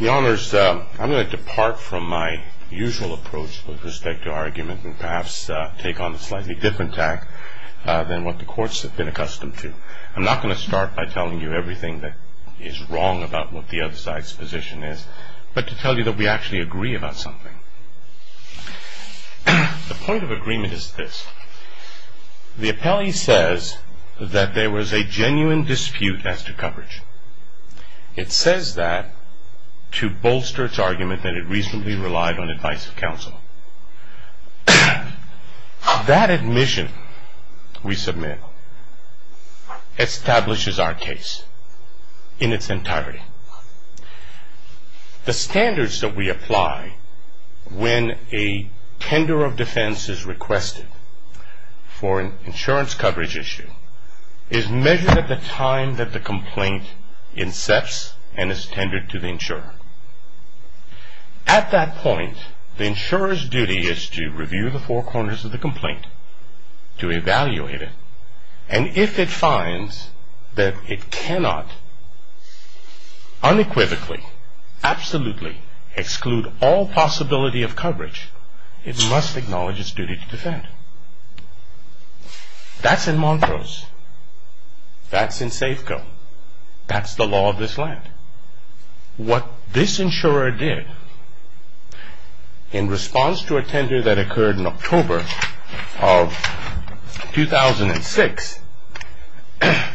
I'm going to depart from my usual approach with respect to our argument and perhaps take on a slightly different tack than what the courts have been accustomed to. I'm not going to start by telling you everything that is wrong about what the other side's position is, but to tell you that we actually agree about something. The point of agreement is this. The appellee says that there was a genuine dispute as to coverage. It says that to bolster its argument that it reasonably relied on advice of counsel. That admission we submit establishes our case in its entirety. The standards that we apply when a tender of defense is requested for an insurance coverage issue is measured at the time that the complaint incepts and is tendered to the insurer. At that point, the insurer's duty is to review the four corners of the complaint, to evaluate it, and if it finds that it cannot unequivocally, absolutely exclude all possibility of coverage, it must acknowledge its duty to defend. That's in Montrose. That's in Safeco. That's the law of this land. What this insurer did in response to a tender that occurred in October of 2006,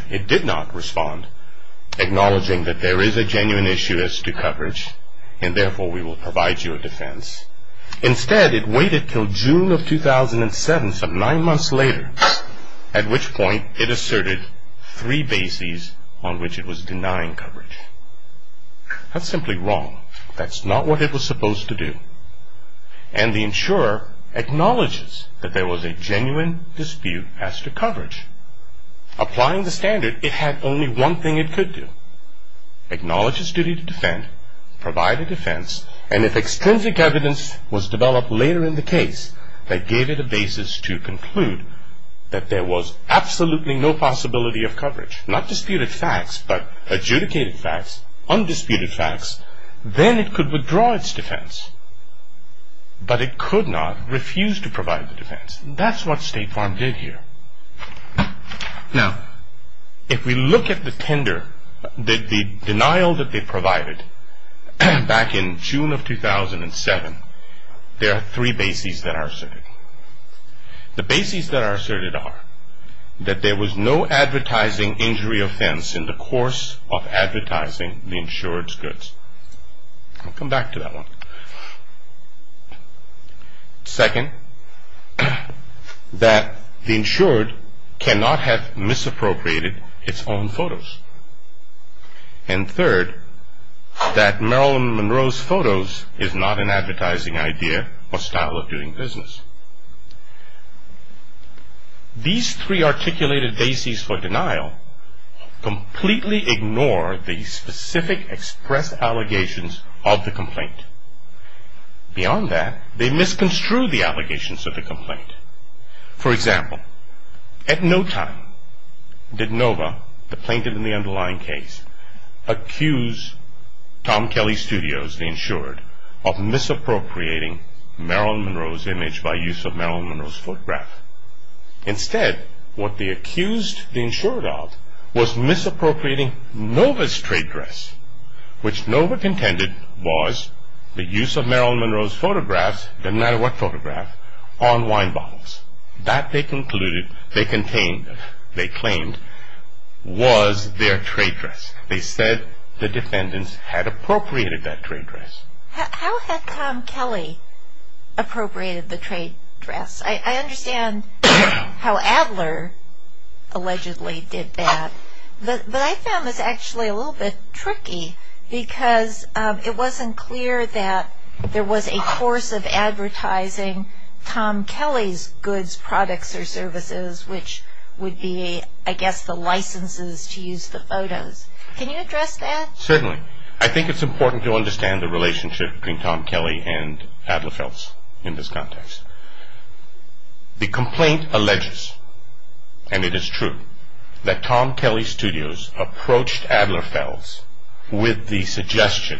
it did not respond acknowledging that there is a genuine issue as to coverage and therefore we will provide you a defense. Instead, it waited until June of 2007, some nine months later, at which point it asserted three bases on which it was denying coverage. That's simply wrong. That's not what it was supposed to do. And the insurer acknowledges that there was a genuine dispute as to coverage. Applying the standard, it had only one thing it could do. Acknowledge its duty to defend, provide a defense, and if extrinsic evidence was developed later in the case that gave it a basis to conclude that there was absolutely no possibility of coverage, not disputed facts, but adjudicated facts, undisputed facts, then it could withdraw its defense. But it could not refuse to provide the defense. That's what State Farm did here. Now, if we look at the tender, the denial that they provided back in June of 2007, there are three bases that are asserted. The bases that are asserted are that there was no advertising injury offense in the course of advertising the insured's goods. I'll come back to that one. Second, that the insured cannot have misappropriated its own photos. And third, that Marilyn Monroe's photos is not an advertising idea or style of doing business. These three articulated bases for denial completely ignore the specific express allegations of the complaint. Beyond that, they misconstrue the allegations of the complaint. For example, at no time did NOVA, the plaintiff in the underlying case, accuse Tom Kelly Studios, the insured, of misappropriating Marilyn Monroe's image by use of Marilyn Monroe's photograph. Instead, what they accused the insured of was misappropriating NOVA's trade dress, which NOVA contended was the use of Marilyn Monroe's photographs, no matter what photograph, on wine bottles. That, they concluded, they claimed, was their trade dress. They said the defendants had appropriated that trade dress. How had Tom Kelly appropriated the trade dress? I understand how Adler allegedly did that, but I found this actually a little bit tricky, because it wasn't clear that there was a course of advertising Tom Kelly's goods, products, or services, which would be, I guess, the licenses to use the photos. Can you address that? Certainly. I think it's important to understand the relationship between Tom Kelly and Adler Fells in this context. The complaint alleges, and it is true, that Tom Kelly Studios approached Adler Fells with the suggestion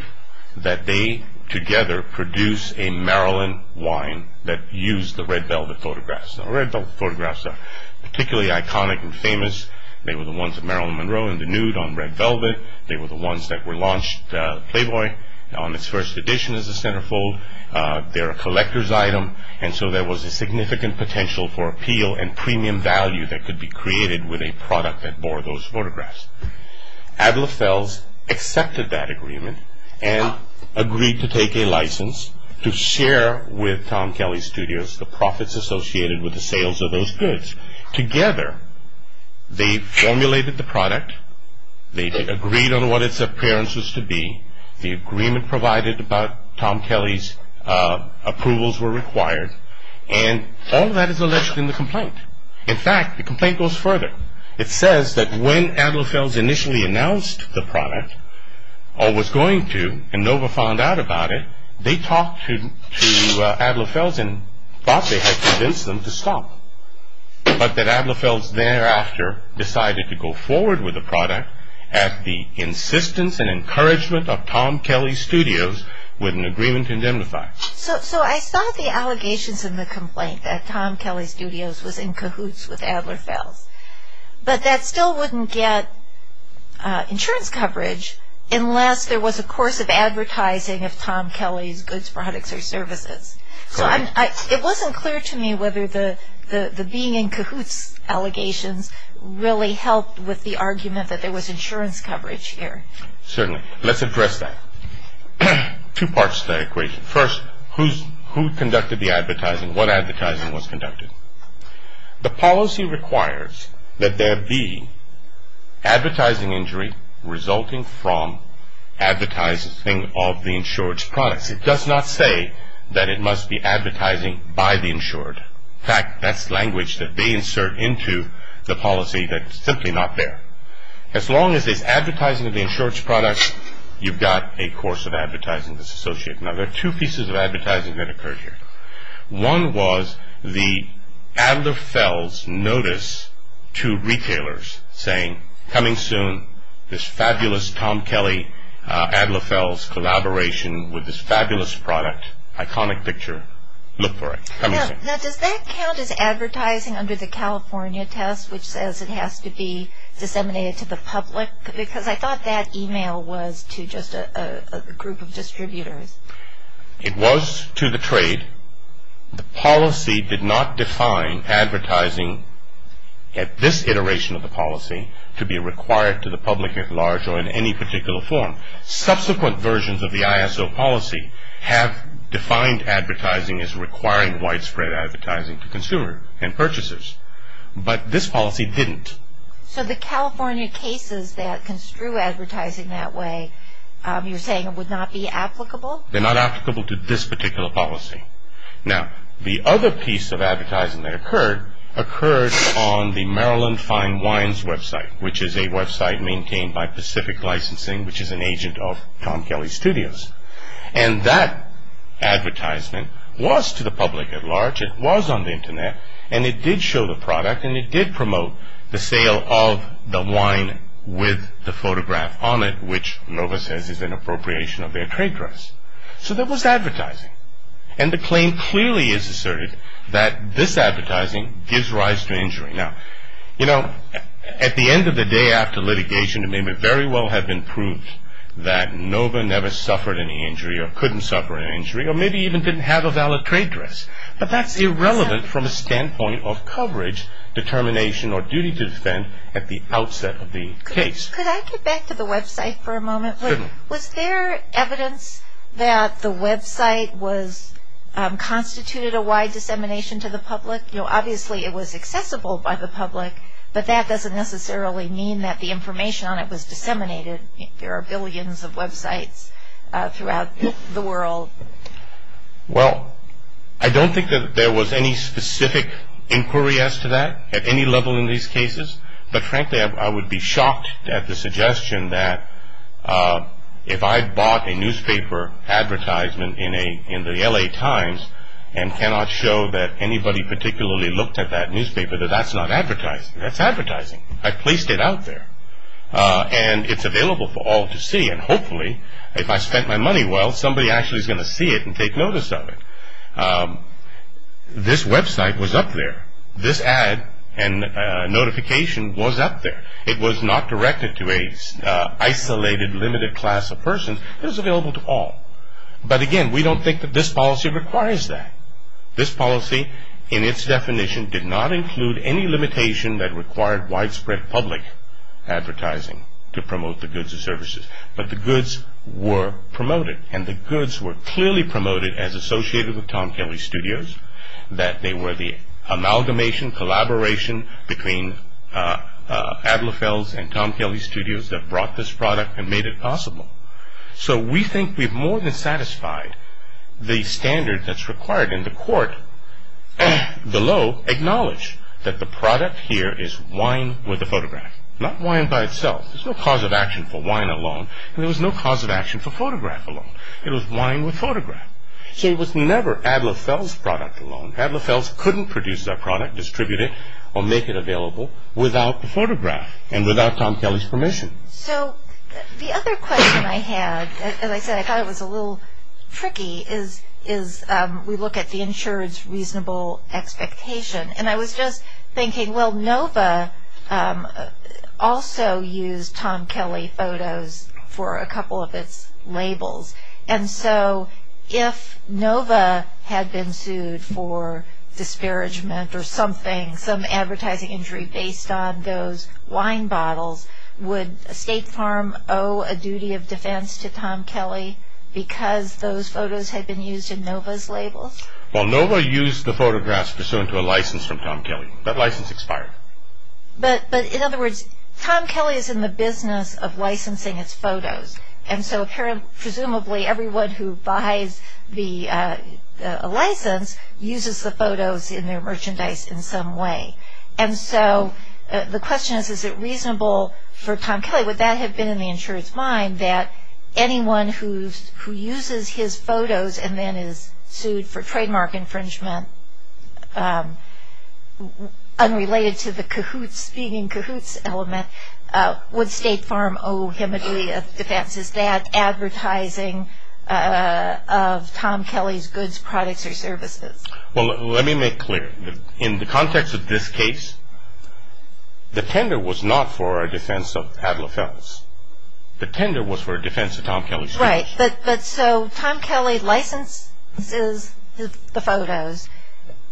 that they, together, produce a Marilyn wine that used the red velvet photographs. The red velvet photographs are particularly iconic and famous. They were the ones of Marilyn Monroe in the nude on red velvet. They were the ones that were launched, Playboy, on its first edition as a centerfold. They're a collector's item, and so there was a significant potential for appeal and premium value that could be created with a product that bore those photographs. Adler Fells accepted that agreement and agreed to take a license to share with Tom Kelly Studios the profits associated with the sales of those goods. Together, they formulated the product, they agreed on what its appearance was to be, the agreement provided about Tom Kelly's approvals were required, and all of that is alleged in the complaint. In fact, the complaint goes further. It says that when Adler Fells initially announced the product, or was going to, and Nova found out about it, they talked to Adler Fells and thought they had convinced them to stop, but that Adler Fells thereafter decided to go forward with the product at the insistence and encouragement of Tom Kelly Studios with an agreement to indemnify. So I saw the allegations in the complaint that Tom Kelly Studios was in cahoots with Adler Fells, but that still wouldn't get insurance coverage unless there was a course of advertising of Tom Kelly's goods, products, or services. So it wasn't clear to me whether the being in cahoots allegations really helped with the argument that there was insurance coverage here. Certainly. Let's address that. Two parts to that equation. What advertising was conducted? The policy requires that there be advertising injury resulting from advertising of the insured's products. It does not say that it must be advertising by the insured. In fact, that's language that they insert into the policy that's simply not there. As long as there's advertising of the insured's products, you've got a course of advertising that's associated. Now, there are two pieces of advertising that occurred here. One was the Adler Fells notice to retailers saying, coming soon, this fabulous Tom Kelly-Adler Fells collaboration with this fabulous product, iconic picture. Look for it. Coming soon. Now, does that count as advertising under the California test, which says it has to be disseminated to the public? Because I thought that email was to just a group of distributors. It was to the trade. The policy did not define advertising at this iteration of the policy to be required to the public at large or in any particular form. Subsequent versions of the ISO policy have defined advertising as requiring widespread advertising to consumer and purchasers. But this policy didn't. So the California cases that construe advertising that way, you're saying it would not be applicable? They're not applicable to this particular policy. Now, the other piece of advertising that occurred, occurred on the Maryland Fine Wines website, which is a website maintained by Pacific Licensing, which is an agent of Tom Kelly Studios. And it did show the product, and it did promote the sale of the wine with the photograph on it, which NOVA says is an appropriation of their trade dress. So there was advertising. And the claim clearly is asserted that this advertising gives rise to injury. Now, you know, at the end of the day, after litigation, it may very well have been proved that NOVA never suffered any injury or couldn't suffer any injury or maybe even didn't have a valid trade dress. But that's irrelevant from a standpoint of coverage, determination, or duty to defend at the outset of the case. Could I get back to the website for a moment? Certainly. Was there evidence that the website constituted a wide dissemination to the public? You know, obviously it was accessible by the public, but that doesn't necessarily mean that the information on it was disseminated. There are billions of websites throughout the world. Well, I don't think that there was any specific inquiry as to that at any level in these cases. But frankly, I would be shocked at the suggestion that if I bought a newspaper advertisement in the L.A. Times and cannot show that anybody particularly looked at that newspaper, that that's not advertising. That's advertising. I placed it out there. And it's available for all to see. And hopefully, if I spent my money well, somebody actually is going to see it and take notice of it. This website was up there. This ad and notification was up there. It was not directed to an isolated, limited class of person. It was available to all. But again, we don't think that this policy requires that. This policy, in its definition, did not include any limitation that required widespread public advertising to promote the goods and services. But the goods were promoted. And the goods were clearly promoted as associated with Tom Kelly Studios, that they were the amalgamation, collaboration between Adler Fells and Tom Kelly Studios that brought this product and made it possible. So we think we've more than satisfied the standard that's required. And the court below acknowledged that the product here is wine with a photograph, not wine by itself. There's no cause of action for wine alone. And there was no cause of action for photograph alone. It was wine with photograph. So it was never Adler Fells' product alone. Adler Fells couldn't produce that product, distribute it, or make it available without the photograph and without Tom Kelly's permission. So the other question I had, as I said, I thought it was a little tricky, is we look at the insurer's reasonable expectation. And I was just thinking, well, Nova also used Tom Kelly photos for a couple of its labels. And so if Nova had been sued for disparagement or something, some advertising injury based on those wine bottles, would State Farm owe a duty of defense to Tom Kelly because those photos had been used in Nova's labels? Well, Nova used the photographs pursuant to a license from Tom Kelly. That license expired. But in other words, Tom Kelly is in the business of licensing its photos. And so presumably everyone who buys the license uses the photos in their merchandise in some way. And so the question is, is it reasonable for Tom Kelly, would that have been in the insurer's mind, that anyone who uses his photos and then is sued for trademark infringement unrelated to the cahoots, this being cahoots element, would State Farm owe him a duty of defense? Is that advertising of Tom Kelly's goods, products, or services? Well, let me make clear. In the context of this case, the tender was not for a defense of Adler Phelps. The tender was for a defense of Tom Kelly's goods. Right. But so Tom Kelly licenses the photos.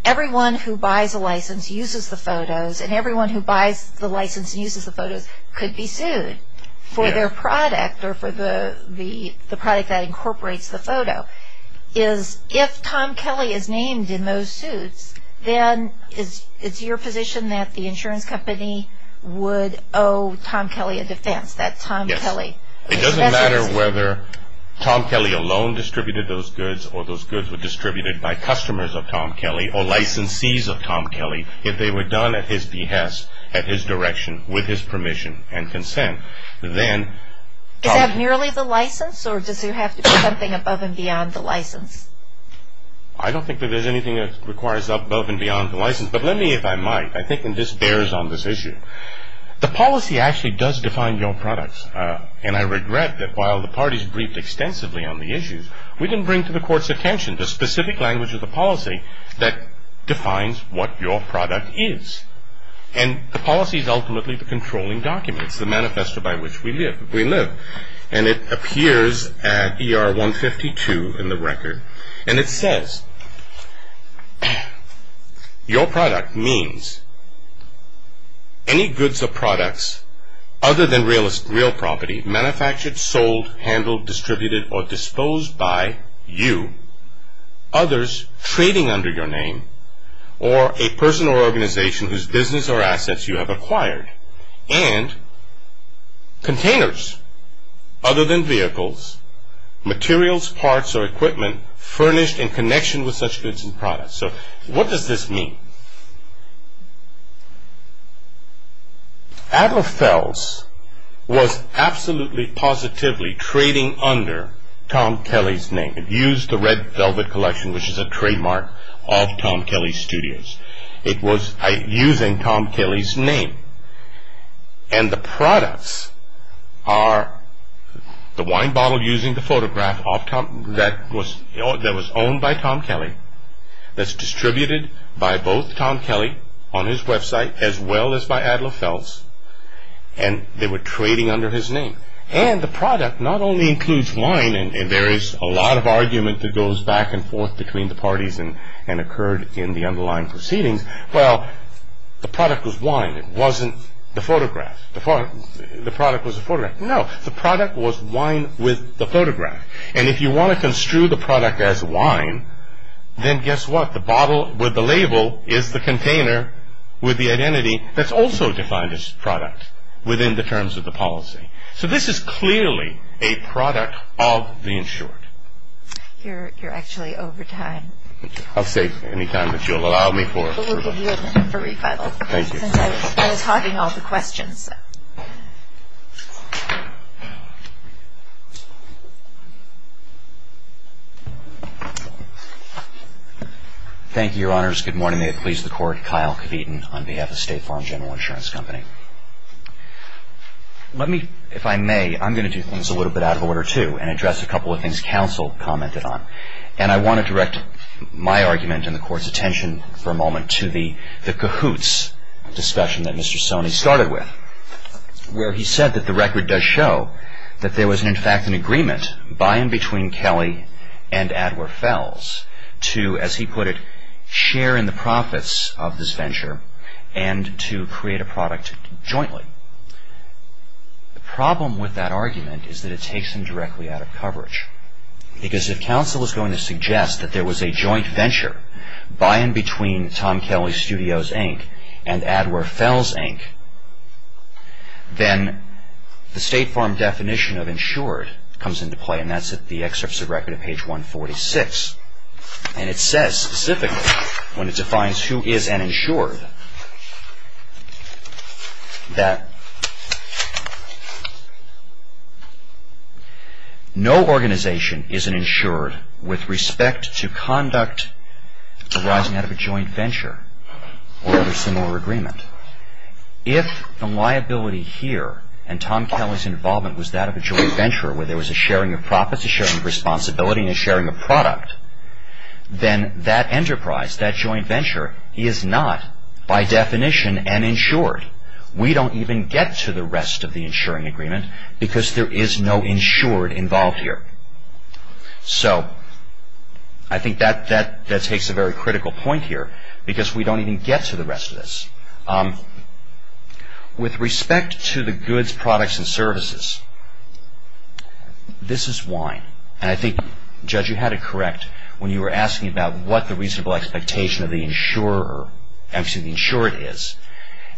Everyone who buys a license uses the photos, and everyone who buys the license and uses the photos could be sued for their product or for the product that incorporates the photo. If Tom Kelly is named in those suits, then it's your position that the insurance company would owe Tom Kelly a defense, that Tom Kelly. Yes. It doesn't matter whether Tom Kelly alone distributed those goods or those goods were distributed by customers of Tom Kelly or licensees of Tom Kelly. If they were done at his behest, at his direction, with his permission and consent, then Tom. Is that merely the license, or does there have to be something above and beyond the license? I don't think that there's anything that requires above and beyond the license. But let me, if I might, I think this bears on this issue. The policy actually does define your products, and I regret that while the parties briefed extensively on the issues, we didn't bring to the court's attention the specific language of the policy that defines what your product is. And the policy is ultimately the controlling document. It's the manifesto by which we live. And it appears at ER 152 in the record, and it says, Your product means any goods or products other than real property, manufactured, sold, handled, distributed, or disposed by you, others trading under your name, or a person or organization whose business or assets you have acquired, and containers, other than vehicles, materials, parts, or equipment furnished in connection with such goods and products. So what does this mean? Adler Fells was absolutely positively trading under Tom Kelly's name. It used the Red Velvet Collection, which is a trademark of Tom Kelly Studios. It was using Tom Kelly's name. And the products are the wine bottle using the photograph that was owned by Tom Kelly that's distributed by both Tom Kelly on his website as well as by Adler Fells, and they were trading under his name. And the product not only includes wine, and there is a lot of argument that goes back and forth between the parties and occurred in the underlying proceedings. Well, the product was wine. It wasn't the photograph. The product was a photograph. No, the product was wine with the photograph. And if you want to construe the product as wine, then guess what? The bottle with the label is the container with the identity that's also defined as product within the terms of the policy. So this is clearly a product of the insured. You're actually over time. I'll save any time that you'll allow me for. We'll give you a minute for refinement. Thank you. I was hogging all the questions. Thank you, Your Honors. Good morning. May it please the Court. I'm Kyle Kebeaton on behalf of State Farm General Insurance Company. Let me, if I may, I'm going to do things a little bit out of order too and address a couple of things counsel commented on. And I want to direct my argument and the Court's attention for a moment to the Cahoots discussion that Mr. Sony started with, where he said that the record does show that there was in fact an agreement by and between Kelly and Adler Fells to, as he put it, share in the profits of this venture and to create a product jointly. The problem with that argument is that it takes him directly out of coverage. Because if counsel is going to suggest that there was a joint venture by and between Tom Kelly Studios, Inc. and Adler Fells, Inc., then the State Farm definition of insured comes into play, and that's at the excerpts of record at page 146. And it says specifically, when it defines who is an insured, that no organization is an insured with respect to conduct arising out of a joint venture or other similar agreement. If the liability here and Tom Kelly's involvement was that of a joint venture, where there was a sharing of profits, a sharing of responsibility, and a sharing of product, then that enterprise, that joint venture, is not by definition an insured. We don't even get to the rest of the insuring agreement because there is no insured involved here. So I think that takes a very critical point here because we don't even get to the rest of this. With respect to the goods, products, and services, this is wine. And I think, Judge, you had it correct when you were asking about what the reasonable expectation of the insured is,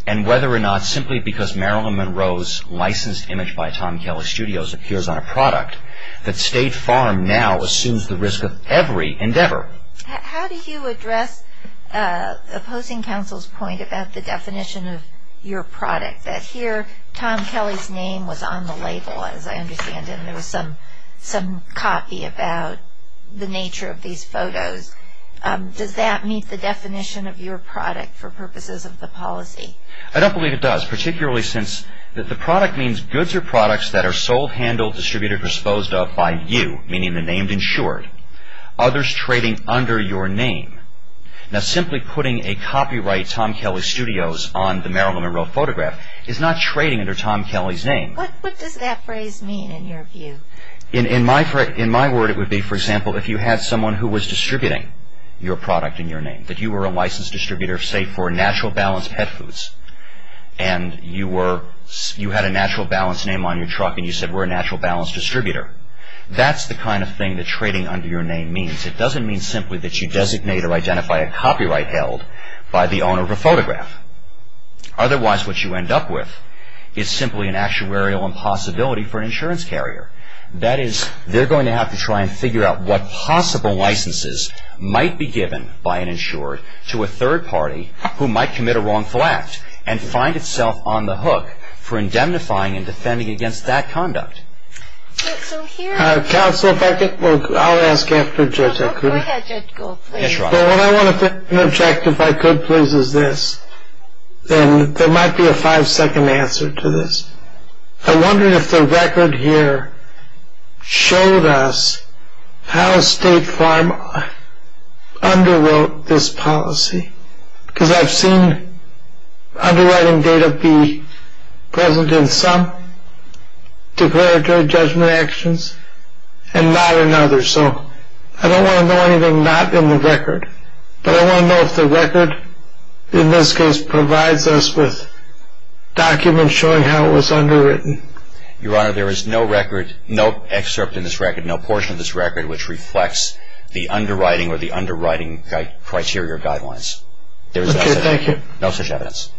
and whether or not simply because Marilyn Monroe's licensed image by Tom Kelly Studios appears on a product, that State Farm now assumes the risk of every endeavor. How do you address opposing counsel's point about the definition of your product, that here Tom Kelly's name was on the label, as I understand it, and there was some copy about the nature of these photos? Does that meet the definition of your product for purposes of the policy? I don't believe it does, particularly since the product means goods or products that are sold, handled, distributed, or disposed of by you, meaning the name insured. Others trading under your name. Now, simply putting a copyright Tom Kelly Studios on the Marilyn Monroe photograph is not trading under Tom Kelly's name. What does that phrase mean in your view? In my word, it would be, for example, if you had someone who was distributing your product in your name, that you were a licensed distributor, say, for Natural Balance Pet Foods, and you had a Natural Balance name on your truck, and you said, we're a Natural Balance distributor. That's the kind of thing that trading under your name means. It doesn't mean simply that you designate or identify a copyright held by the owner of a photograph. Otherwise, what you end up with is simply an actuarial impossibility for an insurance carrier. That is, they're going to have to try and figure out what possible licenses might be given by an insured to a third party who might commit a wrongful act, and find itself on the hook for indemnifying and defending against that conduct. Counsel, if I could, I'll ask after Judge Akuti. Yes, Your Honor. What I want to object, if I could please, is this. There might be a five-second answer to this. I wonder if the record here showed us how State Farm underwrote this policy. Because I've seen underwriting data be present in some declaratory judgment actions and not in others. So I don't want to know anything not in the record, but I want to know if the record in this case provides us with documents showing how it was underwritten. Your Honor, there is no record, no excerpt in this record, no portion of this record, which reflects the underwriting or the underwriting criteria or guidelines. Okay, thank you. There is no such evidence.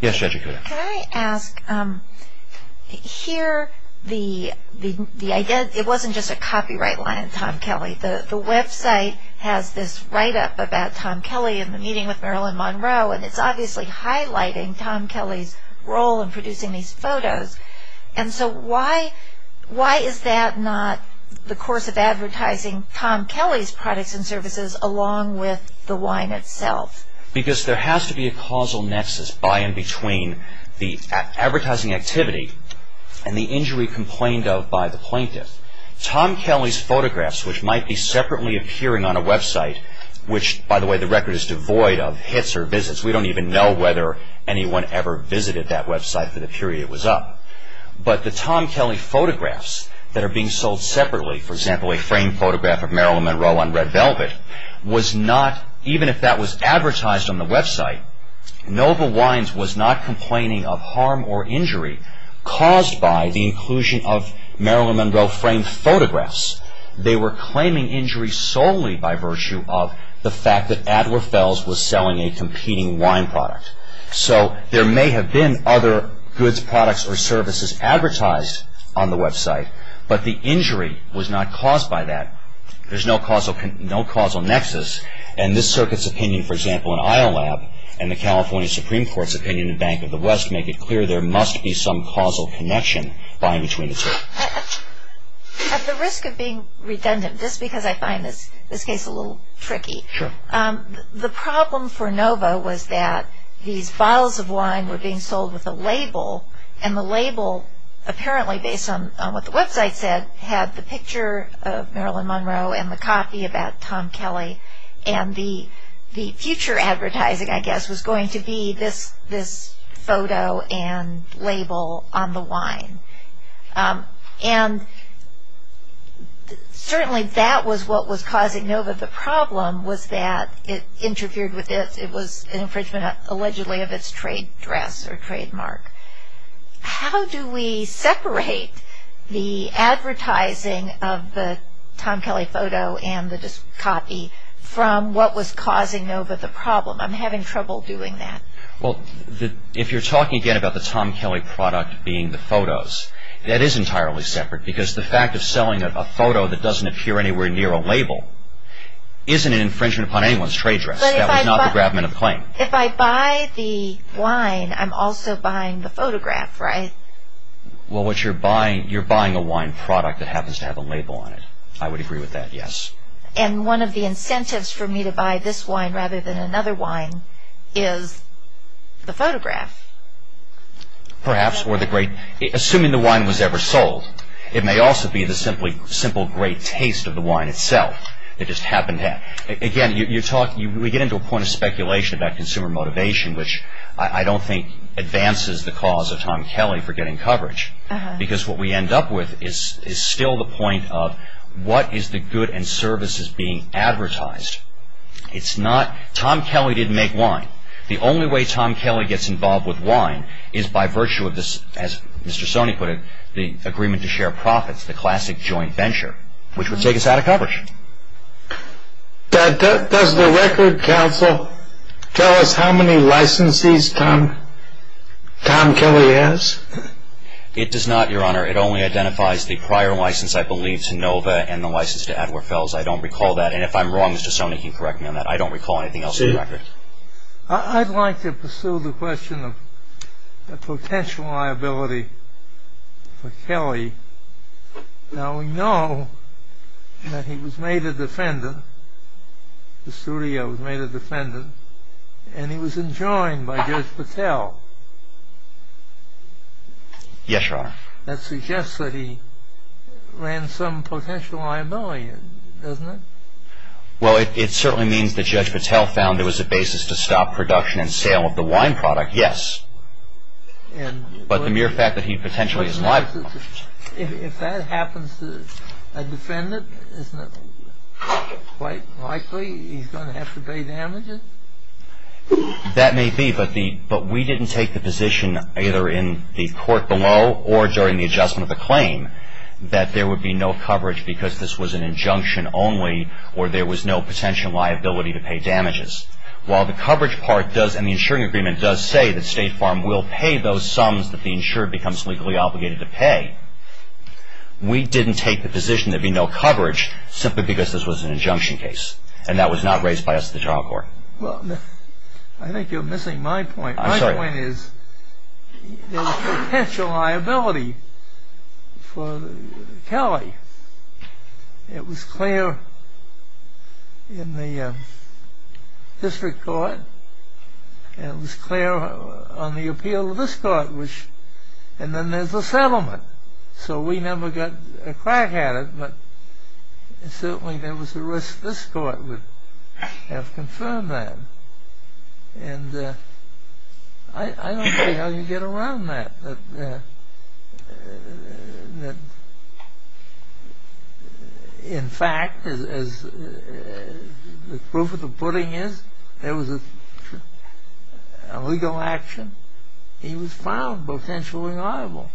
Yes, Judge Akuti. Can I ask, here, it wasn't just a copyright line in Tom Kelly. The website has this write-up about Tom Kelly in the meeting with Marilyn Monroe, and it's obviously highlighting Tom Kelly's role in producing these photos. And so why is that not the course of advertising Tom Kelly's products and services along with the wine itself? Because there has to be a causal nexus by and between the advertising activity and the injury complained of by the plaintiff. Tom Kelly's photographs, which might be separately appearing on a website, which, by the way, the record is devoid of hits or visits. We don't even know whether anyone ever visited that website for the period it was up. But the Tom Kelly photographs that are being sold separately, for example, a framed photograph of Marilyn Monroe on red velvet, was not, even if that was advertised on the website, Nova Wines was not complaining of harm or injury caused by the inclusion of Marilyn Monroe framed photographs. They were claiming injury solely by virtue of the fact that Adler Fells was selling a competing wine product. So there may have been other goods, products, or services advertised on the website, but the injury was not caused by that. There's no causal nexus, and this circuit's opinion, for example, in Isle Lab and the California Supreme Court's opinion in Bank of the West make it clear there must be some causal connection by and between the two. At the risk of being redundant, just because I find this case a little tricky, the problem for Nova was that these bottles of wine were being sold with a label, and the label, apparently based on what the website said, had the picture of Marilyn Monroe and the copy about Tom Kelly, and the future advertising, I guess, was going to be this photo and label on the wine. And certainly that was what was causing Nova the problem was that it interfered with this. It was an infringement, allegedly, of its trade dress or trademark. How do we separate the advertising of the Tom Kelly photo and the copy from what was causing Nova the problem? I'm having trouble doing that. If you're talking again about the Tom Kelly product being the photos, that is entirely separate because the fact of selling a photo that doesn't appear anywhere near a label isn't an infringement upon anyone's trade dress. That was not the grabment of claim. If I buy the wine, I'm also buying the photograph, right? Well, you're buying a wine product that happens to have a label on it. I would agree with that, yes. And one of the incentives for me to buy this wine rather than another wine is the photograph. Perhaps. Assuming the wine was ever sold, it may also be the simple great taste of the wine itself. It just happened that way. Again, we get into a point of speculation about consumer motivation, which I don't think advances the cause of Tom Kelly for getting coverage because what we end up with is still the point of what is the good and services being advertised. Tom Kelly didn't make wine. The only way Tom Kelly gets involved with wine is by virtue of this, as Mr. Sony put it, the agreement to share profits, the classic joint venture, which would take us out of coverage. Does the Record Council tell us how many licensees Tom Kelly has? It does not, Your Honor. It only identifies the prior license, I believe, to Nova and the license to Adler Fells. I don't recall that. And if I'm wrong, Mr. Sony can correct me on that. I don't recall anything else on the record. Now, we know that he was made a defendant, the studio was made a defendant, and he was enjoined by Judge Patel. Yes, Your Honor. That suggests that he ran some potential liability, doesn't it? Well, it certainly means that Judge Patel found there was a basis to stop production and sale of the wine product, yes, but the mere fact that he potentially is liable. If that happens to a defendant, isn't it quite likely he's going to have to pay damages? That may be, but we didn't take the position either in the court below or during the adjustment of the claim that there would be no coverage because this was an injunction only or there was no potential liability to pay damages. While the coverage part does, and the insuring agreement does say that State Farm will pay those sums that the insured becomes legally obligated to pay, we didn't take the position there'd be no coverage simply because this was an injunction case and that was not raised by us at the trial court. Well, I think you're missing my point. I'm sorry. My point is there was potential liability for Kelly. It was clear in the district court and it was clear on the appeal of this court, and then there's the settlement, so we never got a crack at it, but certainly there was a risk this court would have confirmed that. And I don't see how you get around that. In fact, as the proof of the pudding is, there was a legal action. He was found potentially liable.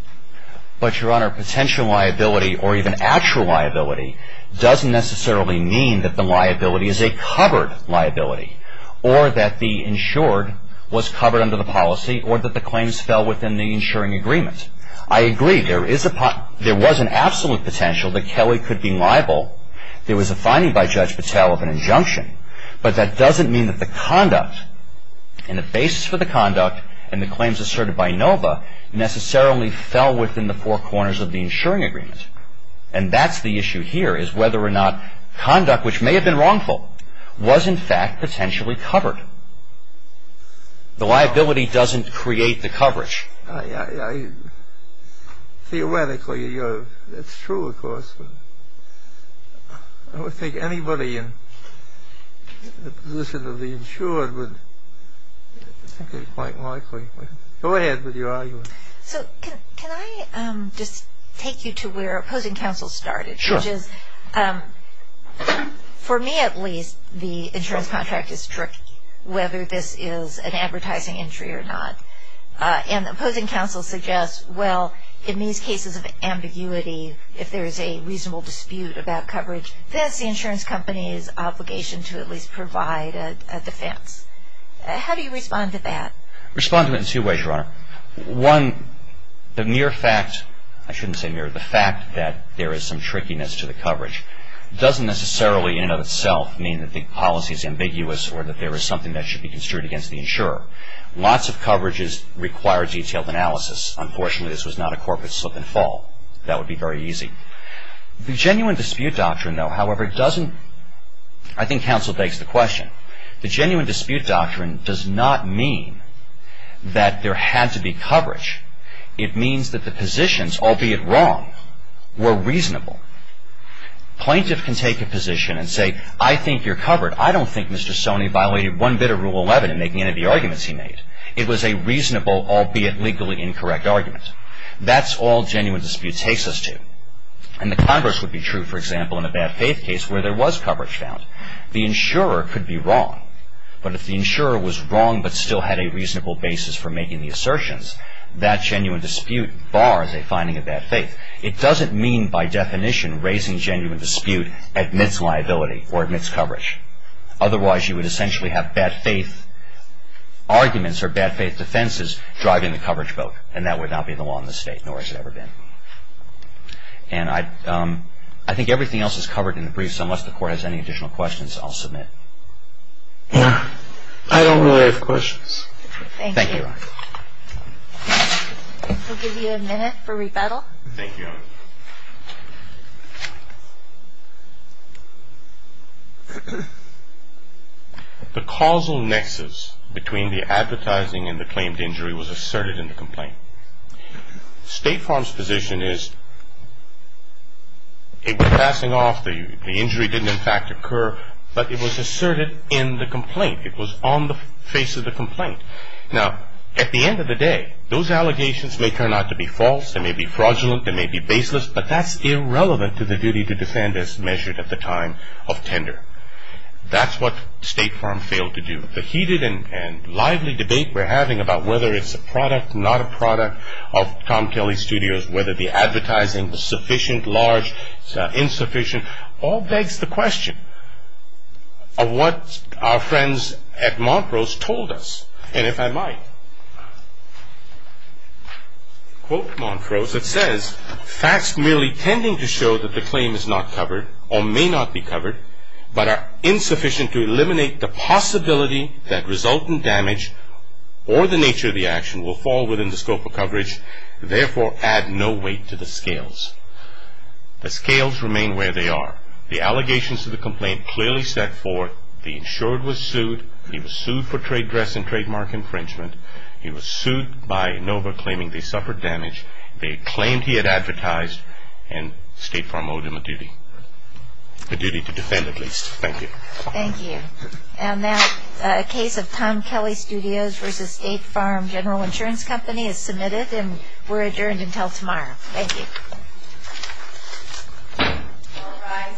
But, Your Honor, potential liability or even actual liability doesn't necessarily mean that the liability is a covered liability or that the insured was covered under the policy or that the claims fell within the insuring agreement. I agree there was an absolute potential that Kelly could be liable. There was a finding by Judge Patel of an injunction, but that doesn't mean that the conduct and the basis for the conduct and the claims asserted by Nova necessarily fell within the four corners of the insuring agreement. And that's the issue here is whether or not conduct, which may have been wrongful, was, in fact, potentially covered. The liability doesn't create the coverage. Theoretically, it's true, of course, but I don't think anybody in the position of the insured would think it's quite likely. Go ahead with your argument. So can I just take you to where opposing counsel started? Sure. Judge, for me, at least, the insurance contract is tricky, whether this is an advertising injury or not. And opposing counsel suggests, well, in these cases of ambiguity, if there is a reasonable dispute about coverage, that's the insurance company's obligation to at least provide a defense. How do you respond to that? Respond to it in two ways, Your Honor. One, the mere fact, I shouldn't say mere, the fact that there is some trickiness to the coverage doesn't necessarily in and of itself mean that the policy is ambiguous or that there is something that should be construed against the insurer. Lots of coverages require detailed analysis. Unfortunately, this was not a corporate slip and fall. That would be very easy. The genuine dispute doctrine, though, however, doesn't, I think counsel begs the question, The genuine dispute doctrine does not mean that there had to be coverage. It means that the positions, albeit wrong, were reasonable. Plaintiff can take a position and say, I think you're covered. I don't think Mr. Stoney violated one bit of Rule 11 in making any of the arguments he made. It was a reasonable, albeit legally incorrect, argument. That's all genuine dispute takes us to. And the converse would be true, for example, in a bad faith case where there was coverage found. The insurer could be wrong. But if the insurer was wrong but still had a reasonable basis for making the assertions, that genuine dispute bars a finding of bad faith. It doesn't mean, by definition, raising genuine dispute admits liability or admits coverage. Otherwise, you would essentially have bad faith arguments or bad faith defenses driving the coverage vote. And that would not be the law in this state, nor has it ever been. And I think everything else is covered in the briefs. Unless the Court has any additional questions, I'll submit. I don't really have questions. Thank you. We'll give you a minute for rebuttal. Thank you. The causal nexus between the advertising and the claimed injury was asserted in the complaint. State Farm's position is it was passing off. The injury didn't, in fact, occur. But it was asserted in the complaint. It was on the face of the complaint. Now, at the end of the day, those allegations may turn out to be false. They may be fraudulent. They may be baseless. But that's irrelevant to the duty to defend as measured at the time of tender. That's what State Farm failed to do. The heated and lively debate we're having about whether it's a product, not a product of Tom Kelly Studios, whether the advertising was sufficient, large, insufficient, all begs the question of what our friends at Montrose told us. And if I might quote Montrose, it says, Facts merely tending to show that the claim is not covered or may not be covered, but are insufficient to eliminate the possibility that resultant damage or the nature of the action will fall within the scope of coverage, therefore add no weight to the scales. The scales remain where they are. The allegations of the complaint clearly set forth the insured was sued. He was sued for trade dress and trademark infringement. He was sued by Inova claiming they suffered damage. They claimed he had advertised, and State Farm owed him a duty, a duty to defend at least. Thank you. Thank you. And now a case of Tom Kelly Studios v. State Farm General Insurance Company is submitted, and we're adjourned until tomorrow. Thank you. All rise. Thank you.